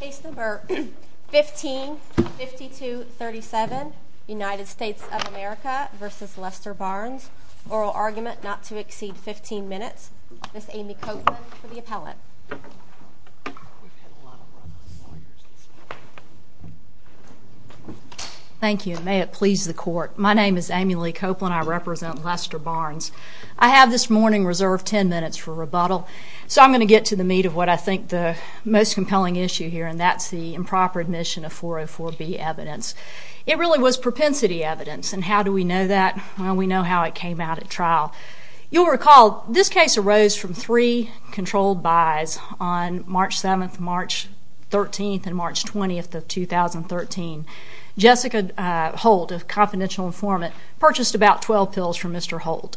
Case number 15-5237, United States of America v. Lester Barnes, oral argument not to exceed 15 minutes. Ms. Amy Copeland for the appellate. Thank you. May it please the court. My name is Amy Lee Copeland. I represent Lester Barnes. I have this morning reserved 10 minutes for rebuttal. So I'm going to get to the meat of what I think the most compelling issue here, and that's the improper admission of 404B evidence. It really was propensity evidence, and how do we know that? Well, we know how it came out at trial. You'll recall this case arose from three controlled buys on March 7th, March 13th, and March 20th of 2013. Jessica Holt, a confidential informant, purchased about 12 pills from Mr. Holt.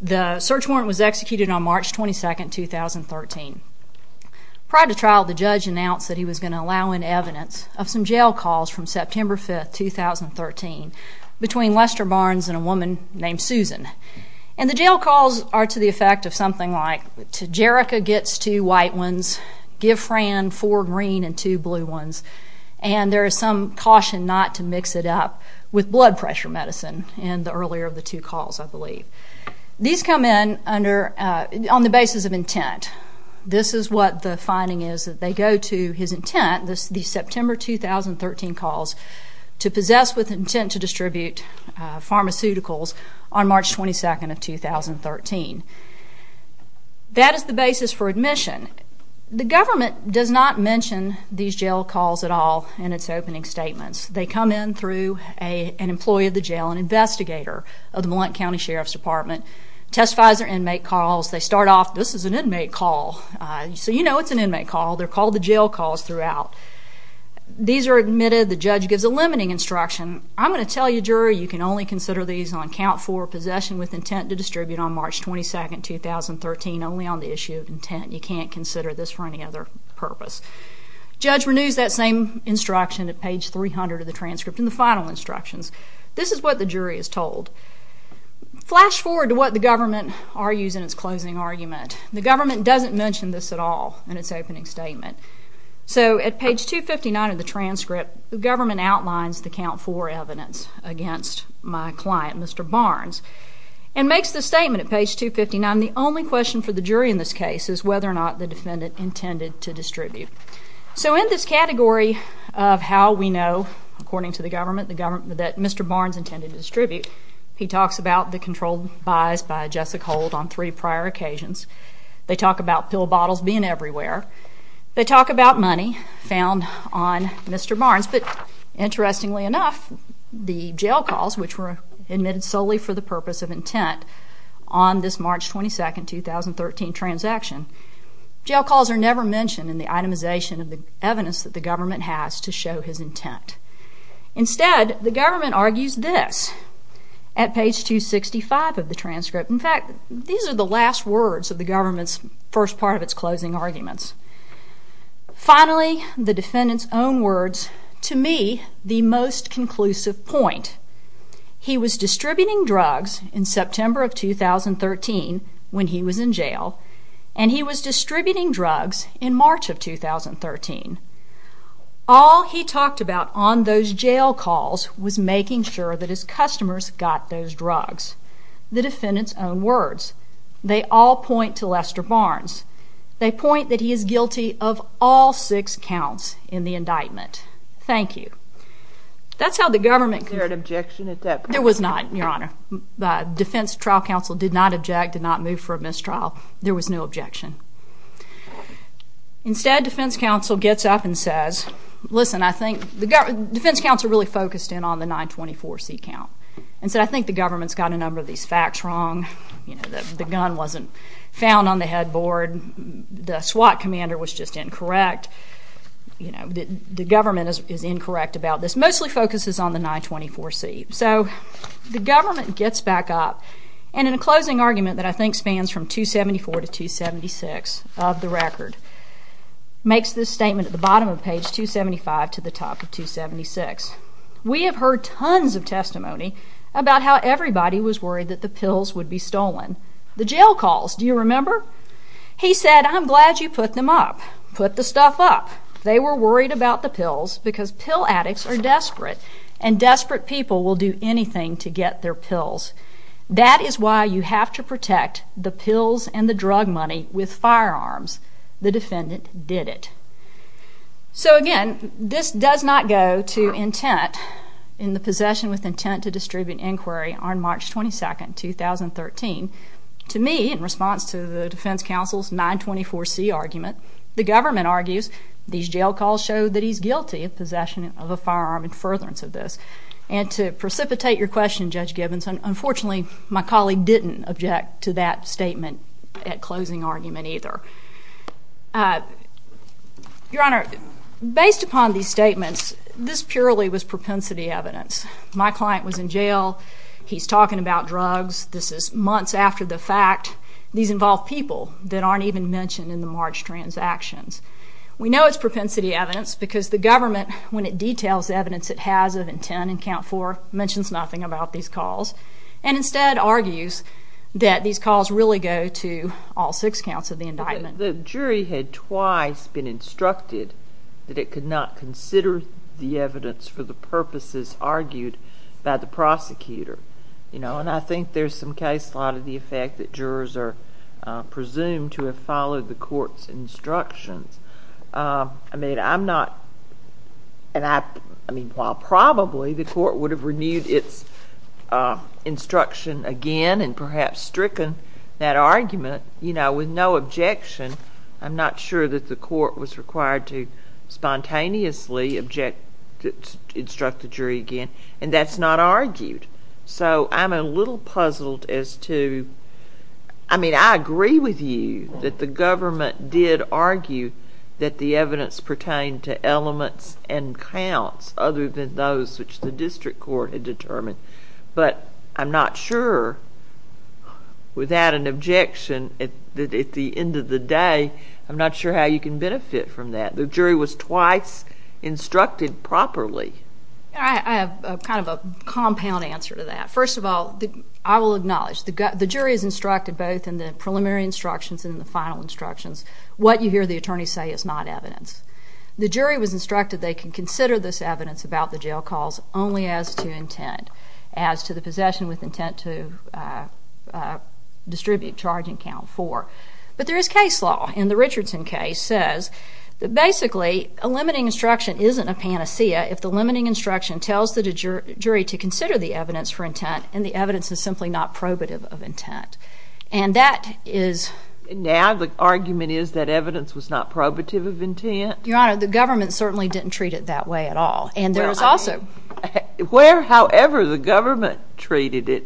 The search warrant was executed on March 22nd, 2013. Prior to trial, the judge announced that he was going to allow in evidence of some jail calls from September 5th, 2013 between Lester Barnes and a woman named Susan. And the jail calls are to the effect of something like, give Fran four green and two blue ones, and there is some caution not to mix it up with blood pressure medicine in the earlier of the two calls, I believe. These come in on the basis of intent. This is what the finding is that they go to his intent, the September 2013 calls, to possess with intent to distribute pharmaceuticals on March 22nd of 2013. That is the basis for admission. The government does not mention these jail calls at all in its opening statements. They come in through an employee of the jail, an investigator of the Mellon County Sheriff's Department, testifies their inmate calls. They start off, this is an inmate call. So you know it's an inmate call. They're called the jail calls throughout. These are admitted. The judge gives a limiting instruction. I'm going to tell you, jury, you can only consider these on count four, possession with intent to distribute on March 22nd, 2013, only on the issue of intent. You can't consider this for any other purpose. Judge renews that same instruction at page 300 of the transcript and the final instructions. This is what the jury is told. Flash forward to what the government argues in its closing argument. The government doesn't mention this at all in its opening statement. So at page 259 of the transcript, the government outlines the count four evidence against my client, Mr. Barnes, and makes the statement at page 259, the only question for the jury in this case is whether or not the defendant intended to distribute. So in this category of how we know, according to the government, that Mr. Barnes intended to distribute, he talks about the controlled buys by Jessica Hold on three prior occasions. They talk about pill bottles being everywhere. They talk about money found on Mr. Barnes. But interestingly enough, the jail calls, which were admitted solely for the purpose of intent on this March 22nd, 2013, transaction, jail calls are never mentioned in the itemization of the evidence that the government has to show his intent. Instead, the government argues this at page 265 of the transcript. In fact, these are the last words of the government's first part of its closing arguments. Finally, the defendant's own words, to me, the most conclusive point. He was distributing drugs in September of 2013 when he was in jail, and he was distributing drugs in March of 2013. All he talked about on those jail calls was making sure that his customers got those drugs. The defendant's own words. They all point to Lester Barnes. They point that he is guilty of all six counts in the indictment. Thank you. That's how the government could- Was there an objection at that point? There was not, Your Honor. Defense trial counsel did not object, did not move for a mistrial. There was no objection. Instead, defense counsel gets up and says, listen, I think- defense counsel really focused in on the 924C count and said, I think the government's got a number of these facts wrong. You know, the gun wasn't found on the headboard. The SWAT commander was just incorrect. You know, the government is incorrect about this. Mostly focuses on the 924C. So the government gets back up, and in a closing argument that I think spans from 274 to 276 of the record, makes this statement at the bottom of page 275 to the top of 276. We have heard tons of testimony about how everybody was worried that the pills would be stolen. The jail calls, do you remember? He said, I'm glad you put them up. Put the stuff up. They were worried about the pills because pill addicts are desperate, and desperate people will do anything to get their pills. That is why you have to protect the pills and the drug money with firearms. The defendant did it. So, again, this does not go to intent in the possession with intent to distribute inquiry on March 22, 2013. To me, in response to the defense counsel's 924C argument, the government argues these jail calls show that he's guilty of possession of a firearm in furtherance of this. And to precipitate your question, Judge Gibbons, unfortunately, my colleague didn't object to that statement at closing argument either. Your Honor, based upon these statements, this purely was propensity evidence. My client was in jail. He's talking about drugs. This is months after the fact. These involve people that aren't even mentioned in the March transactions. We know it's propensity evidence because the government, when it details the evidence it has of intent in count four, mentions nothing about these calls and instead argues that these calls really go to all six counts of the indictment. The jury had twice been instructed that it could not consider the evidence for the purposes argued by the prosecutor. And I think there's some case law to the effect that jurors are presumed to have followed the court's instructions. I mean, I'm notóand IóI mean, while probably the court would have renewed its instruction again and perhaps stricken that argument, you know, with no objection, I'm not sure that the court was required to spontaneously instruct the jury again, and that's not argued. So I'm a little puzzled as toóI mean, I agree with you that the government did argue that the evidence pertained to elements and counts other than those which the district court had determined. But I'm not sure, without an objection, that at the end of the day, I'm not sure how you can benefit from that. The jury was twice instructed properly. I have kind of a compound answer to that. First of all, I will acknowledge the jury is instructed both in the preliminary instructions and in the final instructions. What you hear the attorneys say is not evidence. The jury was instructed they can consider this evidence about the jail calls only as to intent, as to the possession with intent to distribute charging count four. But there is case law, and the Richardson case says that basically a limiting instruction isn't a panacea if the limiting instruction tells the jury to consider the evidence for intent, and the evidence is simply not probative of intent. And that isó Now the argument is that evidence was not probative of intent? Your Honor, the government certainly didn't treat it that way at all. And there was alsoó Where, however, the government treated it,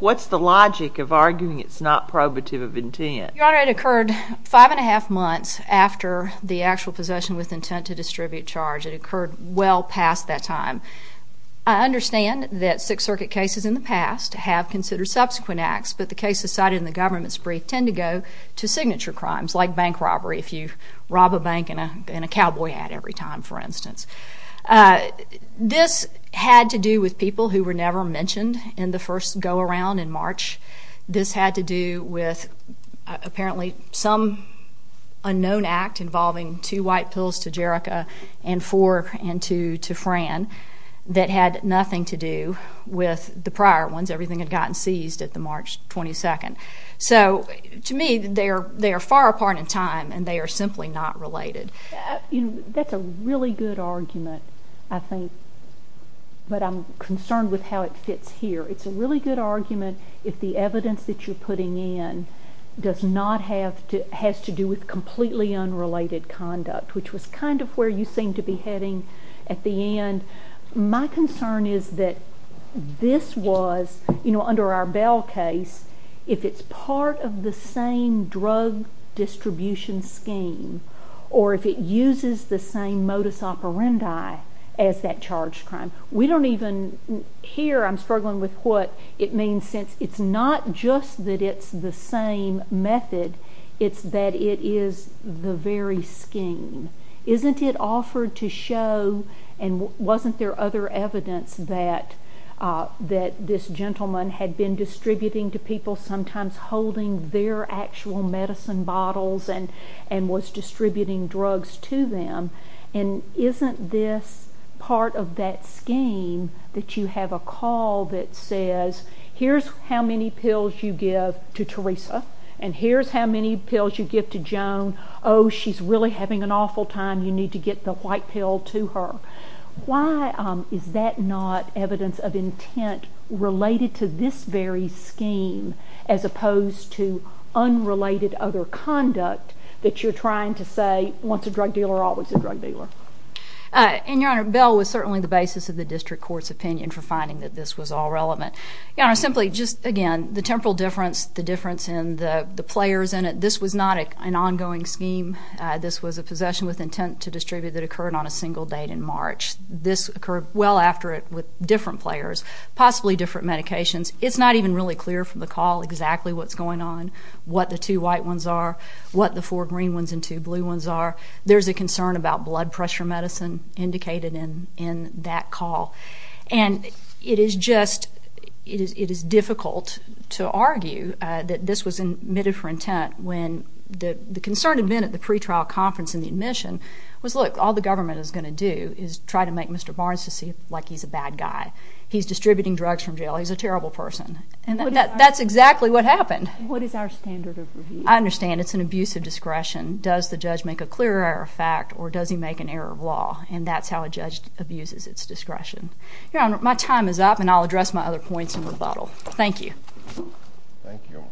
what's the logic of arguing it's not probative of intent? Your Honor, it occurred five and a half months after the actual possession with intent to distribute charge. It occurred well past that time. I understand that Sixth Circuit cases in the past have considered subsequent acts, but the cases cited in the government's brief tend to go to signature crimes, like bank robbery if you rob a bank in a cowboy hat every time, for instance. This had to do with people who were never mentioned in the first go-around in March. This had to do with apparently some unknown act involving two white pills to Jerrica and four to Fran that had nothing to do with the prior ones. Everything had gotten seized at the March 22nd. So to me, they are far apart in time, and they are simply not related. That's a really good argument, I think, but I'm concerned with how it fits here. It's a really good argument if the evidence that you're putting in does not haveó has to do with completely unrelated conduct, which was kind of where you seemed to be heading at the end. My concern is that this was, you know, under our Bell case, if it's part of the same drug distribution scheme or if it uses the same modus operandi as that charged crime. We don't evenóhere I'm struggling with what it means, since it's not just that it's the same method, it's that it is the very scheme. Isn't it offered to showóand wasn't there other evidence that this gentleman had been distributing to people, sometimes holding their actual medicine bottles and was distributing drugs to them? And isn't this part of that scheme that you have a call that says, here's how many pills you give to Teresa, and here's how many pills you give to Joan. Oh, she's really having an awful time. You need to get the white pill to her. Why is that not evidence of intent related to this very scheme as opposed to unrelated other conduct that you're trying to say once a drug dealer, always a drug dealer? And, Your Honor, Bell was certainly the basis of the district court's opinion for finding that this was all relevant. Your Honor, simply, just again, the temporal difference, the difference in the players in it, this was not an ongoing scheme. This was a possession with intent to distribute that occurred on a single date in March. This occurred well after it with different players, possibly different medications. It's not even really clear from the call exactly what's going on, what the two white ones are, what the four green ones and two blue ones are. There's a concern about blood pressure medicine indicated in that call. And it is justóit is difficult to argue that this was admitted for intent when the concern had been at the pretrial conference and the admission was, look, all the government is going to do is try to make Mr. Barnes to see like he's a bad guy. He's distributing drugs from jail. He's a terrible person. And that's exactly what happened. What is our standard of review? I understand it's an abuse of discretion. Does the judge make a clear error of fact or does he make an error of law? And that's how a judge abuses its discretion. Your Honor, my time is up and I'll address my other points in rebuttal. Thank you. Thank you.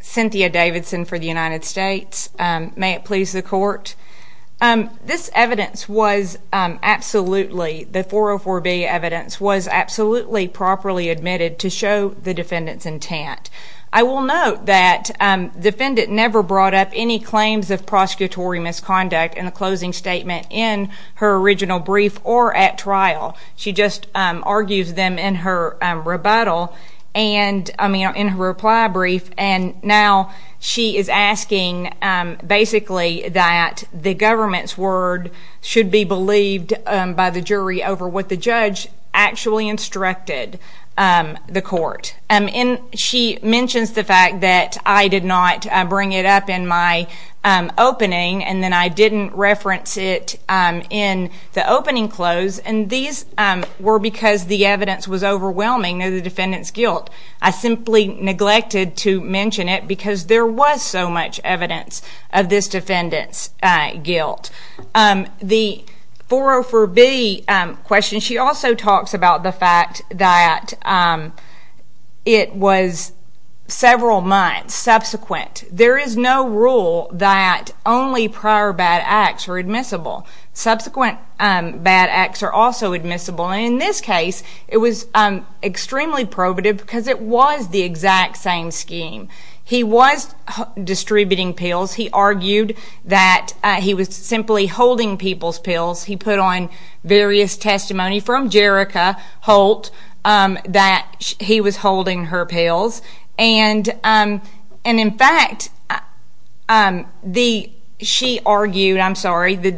Cynthia Davidson for the United States. May it please the Court. This evidence was absolutelyóthe 404B evidence was absolutely properly admitted to show the defendant's intent. I will note that the defendant never brought up any claims of prosecutory misconduct in a closing statement in her original brief or at trial. She just argues them in her rebuttalóI mean, in her reply brief. And now she is asking basically that the government's word should be believed by the jury over what the judge actually instructed the court. And she mentions the fact that I did not bring it up in my opening and then I didn't reference it in the opening close, and these were because the evidence was overwhelming of the defendant's guilt. I simply neglected to mention it because there was so much evidence of this defendant's guilt. The 404B question, she also talks about the fact that it was several months subsequent. There is no rule that only prior bad acts are admissible. Subsequent bad acts are also admissible. In this case, it was extremely probative because it was the exact same scheme. He was distributing pills. He argued that he was simply holding people's pills. He put on various testimony from Jerica Holt that he was holding her pills. And, in fact, she arguedóI'm sorry, the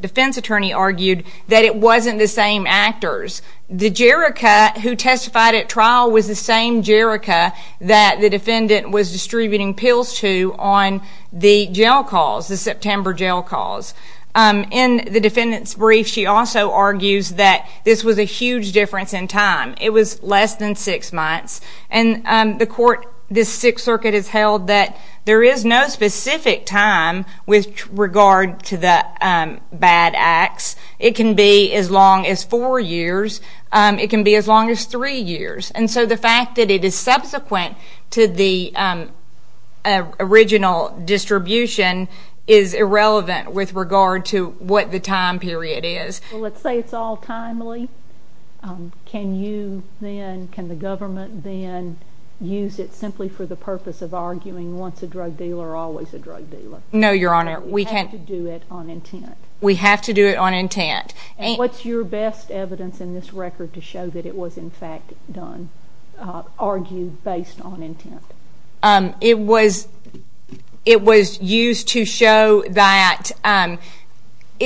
defense attorney arguedóthat it wasn't the same actors. The Jerica who testified at trial was the same Jerica that the defendant was distributing pills to on the jail calls, the September jail calls. In the defendant's brief, she also argues that this was a huge difference in time. It was less than six months. And the courtóthis Sixth Circuit has held that there is no specific time with regard to the bad acts. It can be as long as four years. It can be as long as three years. And so the fact that it is subsequent to the original distribution is irrelevant with regard to what the time period is. Well, let's say it's all timely. Can you thenócan the government then use it simply for the purpose of arguing once a drug dealer, always a drug dealer? No, Your Honor. You have to do it on intent. We have to do it on intent. And what's your best evidence in this record to show that it was, in fact, doneóargued based on intent? It was used to show thatóit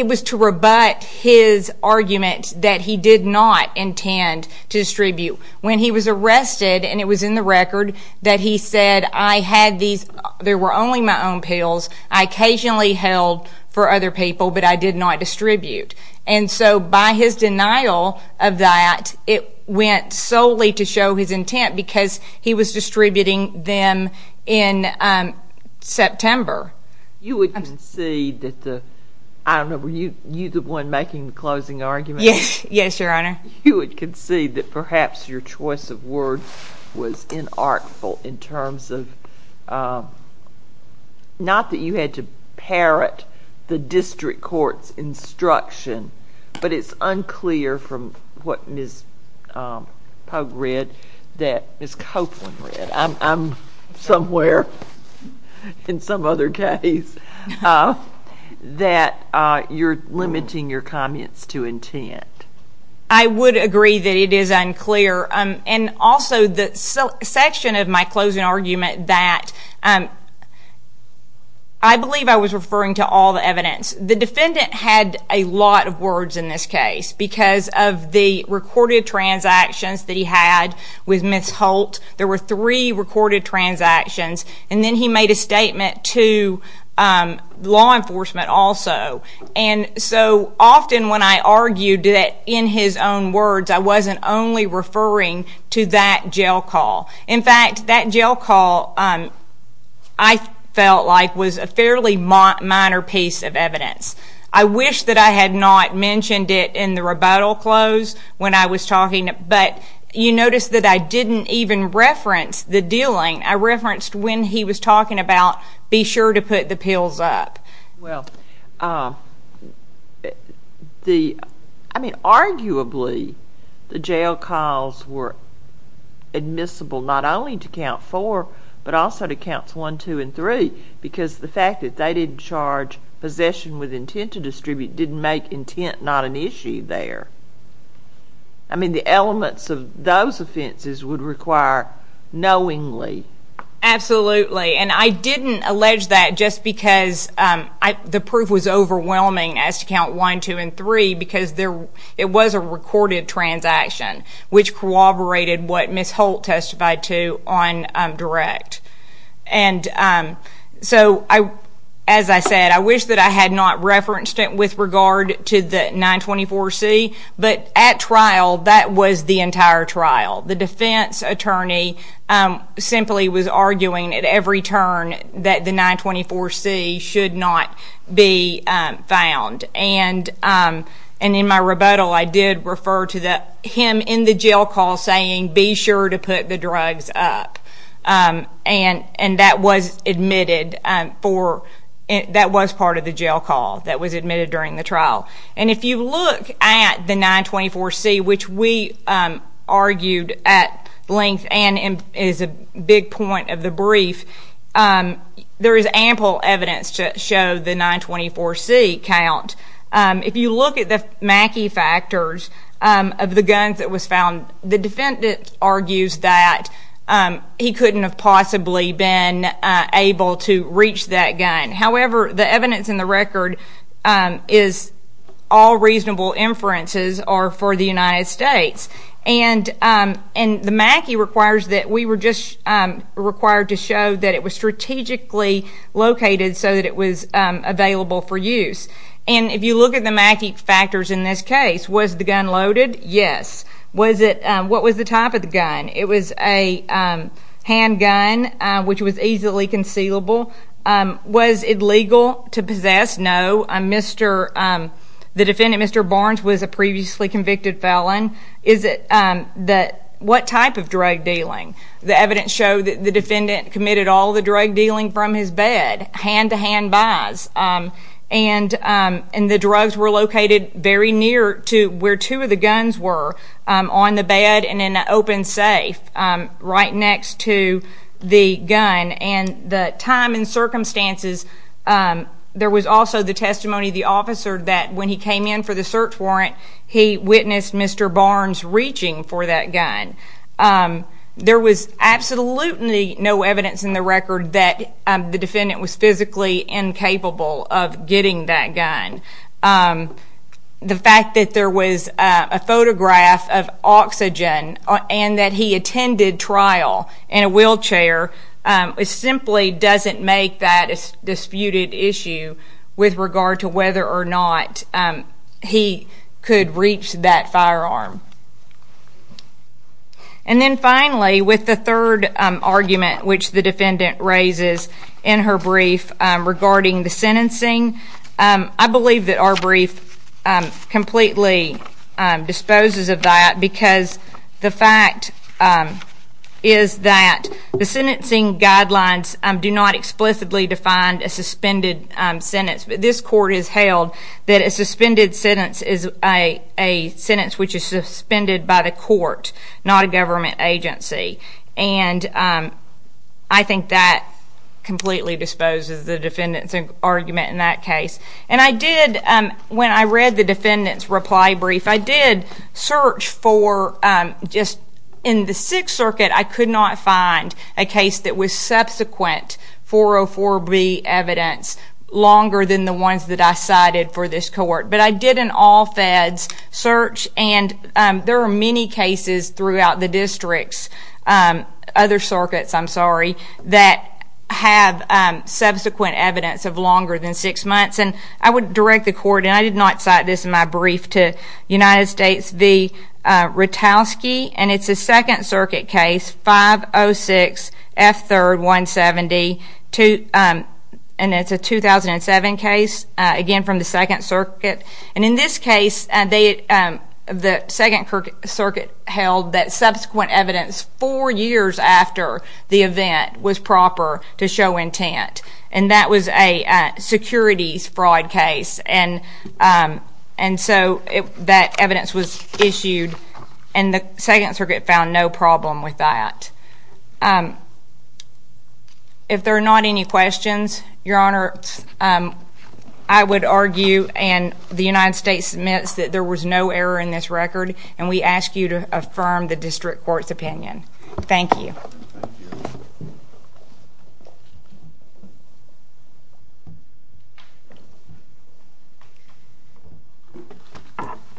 was to rebut his argument that he did not intend to distribute. When he was arrested, and it was in the record, that he said, I had theseóthere were only my own pills I occasionally held for other people, but I did not distribute. And so by his denial of that, it went solely to show his intent because he was distributing them in September. You would concede that theóI don't know, were you the one making the closing argument? Yes, Your Honor. You would concede that perhaps your choice of words was inartful in terms ofónot that you had to parrot the district court's instruction, but it's unclear from what Ms. Pogue read that Ms. Copeland readóI'm somewhere in some other caseóthat you're limiting your comments to intent. I would agree that it is unclear. And also the section of my closing argument thatóI believe I was referring to all the evidence. The defendant had a lot of words in this case because of the recorded transactions that he had with Ms. Holt. There were three recorded transactions. And then he made a statement to law enforcement also. And so often when I argued in his own words, I wasn't only referring to that jail call. In fact, that jail call I felt like was a fairly minor piece of evidence. I wish that I had not mentioned it in the rebuttal close when I was talking, but you notice that I didn't even reference the dealing. I referenced when he was talking about be sure to put the pills up. Well, theóI mean, arguably the jail calls were admissible not only to count four, but also to counts one, two, and three because the fact that they didn't charge possession with intent to distribute didn't make intent not an issue there. I mean, the elements of those offenses would require knowingly. Absolutely. And I didn't allege that just because the proof was overwhelming as to count one, two, and three because it was a recorded transaction which corroborated what Ms. Holt testified to on direct. And so as I said, I wish that I had not referenced it with regard to the 924C, but at trial, that was the entire trial. The defense attorney simply was arguing at every turn that the 924C should not be found. And in my rebuttal, I did refer to him in the jail call saying be sure to put the drugs up. And that was admitted foróthat was part of the jail call that was admitted during the trial. And if you look at the 924C, which we argued at length and is a big point of the brief, there is ample evidence to show the 924C count. If you look at the Mackey factors of the guns that was found, the defendant argues that he couldn't have possibly been able to reach that gun. However, the evidence in the record is all reasonable inferences are for the United States. And the Mackey requires that we were just required to show that it was strategically located so that it was available for use. And if you look at the Mackey factors in this case, was the gun loaded? Yes. What was the type of the gun? It was a handgun, which was easily concealable. Was it legal to possess? No. The defendant, Mr. Barnes, was a previously convicted felon. What type of drug dealing? The evidence showed that the defendant committed all the drug dealing from his bed, hand-to-hand buys. And the drugs were located very near to where two of the guns were, on the bed and in an open safe right next to the gun. And the time and circumstances, there was also the testimony of the officer that when he came in for the search warrant, he witnessed Mr. Barnes reaching for that gun. There was absolutely no evidence in the record that the defendant was physically incapable of getting that gun. The fact that there was a photograph of oxygen and that he attended trial in a wheelchair simply doesn't make that a disputed issue with regard to whether or not he could reach that firearm. And then finally, with the third argument which the defendant raises in her brief regarding the sentencing, I believe that our brief completely disposes of that, because the fact is that the sentencing guidelines do not explicitly define a suspended sentence. But this court has held that a suspended sentence is a sentence which is suspended by the court, not a government agency. And I think that completely disposes the defendant's argument in that case. And I did, when I read the defendant's reply brief, I did search for, just in the Sixth Circuit, I could not find a case that was subsequent 404B evidence longer than the ones that I cited for this court. But I did an all feds search and there are many cases throughout the districts, other circuits I'm sorry, that have subsequent evidence of longer than six months. And I would direct the court, and I did not cite this in my brief, to United States v. Rutowski. And it's a Second Circuit case, 506F3-170. And it's a 2007 case, again from the Second Circuit. And in this case, the Second Circuit held that subsequent evidence four years after the event was proper to show intent. And that was a securities fraud case. And so that evidence was issued and the Second Circuit found no problem with that. If there are not any questions, Your Honor, I would argue and the United States admits that there was no error in this record and we ask you to affirm the district court's opinion. Thank you.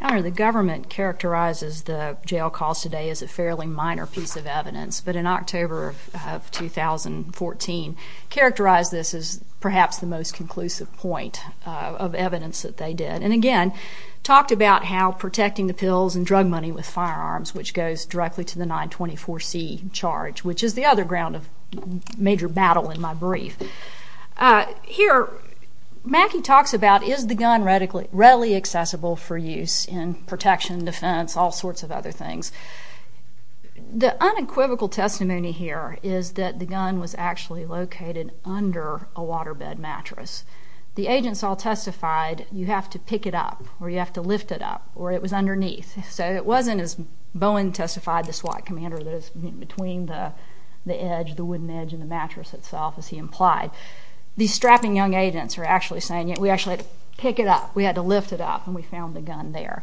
Your Honor, the government characterizes the jail calls today as a fairly minor piece of evidence. But in October of 2014, characterized this as perhaps the most conclusive point of evidence that they did. And again, talked about how protecting the pills and drug money with firearms, which goes directly to the 924C charge, which is the other ground of major battle in my brief. Here, Mackey talks about is the gun readily accessible for use in protection, defense, all sorts of other things. The unequivocal testimony here is that the gun was actually located under a waterbed mattress. The agents all testified you have to pick it up or you have to lift it up or it was underneath. So it wasn't as Bowen testified, the SWAT commander, that it was between the edge, the wooden edge and the mattress itself as he implied. These strapping young agents are actually saying we actually had to pick it up. We had to lift it up and we found the gun there.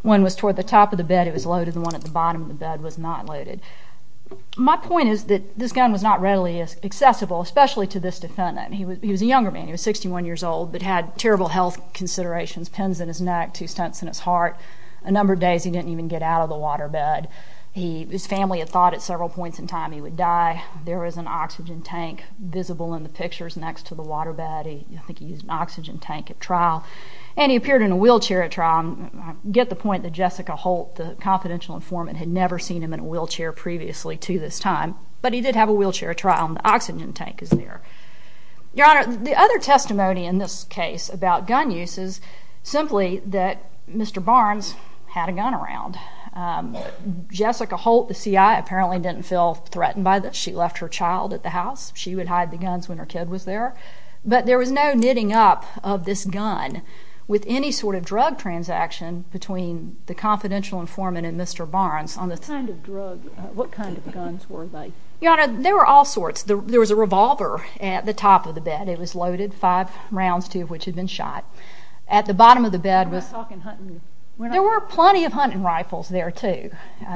One was toward the top of the bed. It was loaded. The one at the bottom of the bed was not loaded. My point is that this gun was not readily accessible, especially to this defendant. He was a younger man. He was 61 years old but had terrible health considerations, pins in his neck, two stunts in his heart. A number of days he didn't even get out of the waterbed. His family had thought at several points in time he would die. There was an oxygen tank visible in the pictures next to the waterbed. I think he used an oxygen tank at trial. And he appeared in a wheelchair at trial. I get the point that Jessica Holt, the confidential informant, had never seen him in a wheelchair previously to this time. But he did have a wheelchair trial and the oxygen tank is there. Your Honor, the other testimony in this case about gun use is simply that Mr. Barnes had a gun around. Jessica Holt, the CI, apparently didn't feel threatened by this. She left her child at the house. She would hide the guns when her kid was there. But there was no knitting up of this gun with any sort of drug transaction between the confidential informant and Mr. Barnes. What kind of guns were they? Your Honor, there were all sorts. There was a revolver at the top of the bed. It was loaded, five rounds, two of which had been shot. At the bottom of the bed was... I'm not talking hunting. There were plenty of hunting rifles there, too.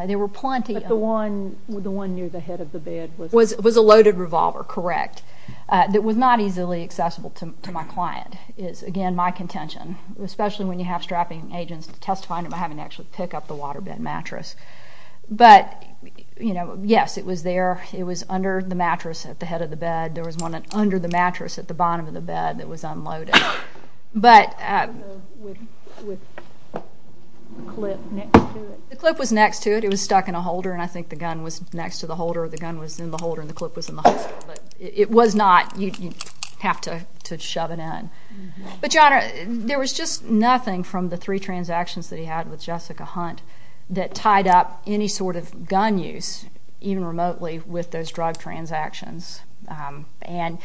There were plenty of... But the one near the head of the bed was... Was a loaded revolver, correct. It was not easily accessible to my client, is, again, my contention, especially when you have strapping agents testifying about having to actually pick up the waterbed mattress. But, you know, yes, it was there. It was under the mattress at the head of the bed. There was one under the mattress at the bottom of the bed that was unloaded. But... With a clip next to it? The clip was next to it. It was stuck in a holder, and I think the gun was next to the holder or the gun was in the holder and the clip was in the holder. But it was not. You'd have to shove it in. But, John, there was just nothing from the three transactions that he had with Jessica Hunt that tied up any sort of gun use, even remotely, with those drug transactions. And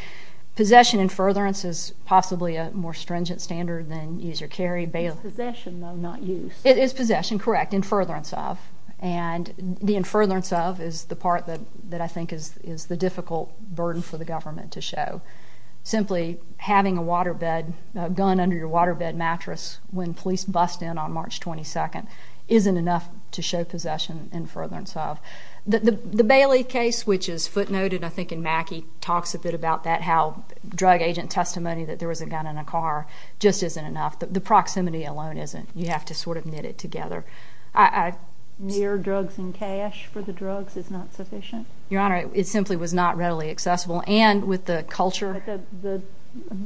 possession and furtherance is possibly a more stringent standard than use or carry bail. It's possession, though, not use. It is possession, correct, and furtherance of. And the furtherance of is the part that I think is the difficult burden for the government to show. Simply having a gun under your waterbed mattress when police bust in on March 22nd isn't enough to show possession and furtherance of. The Bailey case, which is footnoted, I think, in Mackey, talks a bit about that, how drug agent testimony that there was a gun in a car just isn't enough. The proximity alone isn't. You have to sort of knit it together. Near drugs and cash for the drugs is not sufficient? Your Honor, it simply was not readily accessible. And with the culture.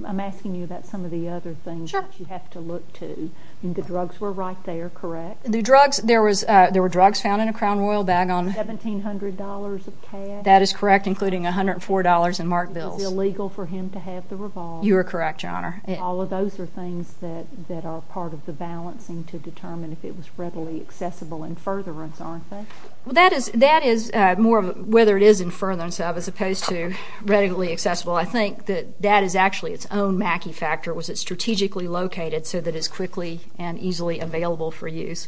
I'm asking you about some of the other things that you have to look to. The drugs were right there, correct? The drugs, there were drugs found in a Crown Royal bag. $1,700 of cash. That is correct, including $104 in marked bills. It was illegal for him to have the revolver. You are correct, Your Honor. All of those are things that are part of the balancing to determine if it was readily accessible in furtherance, aren't they? That is more of whether it is in furtherance of as opposed to readily accessible. I think that that is actually its own Mackey factor. Was it strategically located so that it is quickly and easily available for use?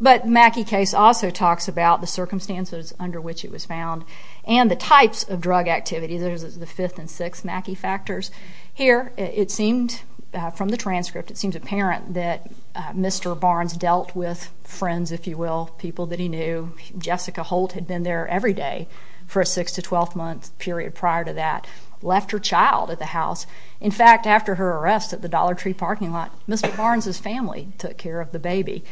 But Mackey case also talks about the circumstances under which it was found and the types of drug activity. Those are the fifth and sixth Mackey factors. Here, it seemed from the transcript, it seems apparent that Mr. Barnes dealt with friends, if you will, people that he knew. Jessica Holt had been there every day for a 6 to 12-month period prior to that, left her child at the house. In fact, after her arrest at the Dollar Tree parking lot, Mr. Barnes' family took care of the baby.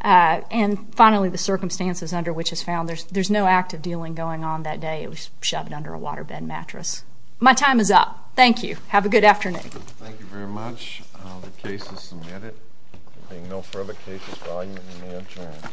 And finally, the circumstances under which it was found. There is no active dealing going on that day. It was shoved under a waterbed mattress. My time is up. Thank you. Have a good afternoon. Thank you very much. The case is submitted. There being no further cases, volume may adjourn.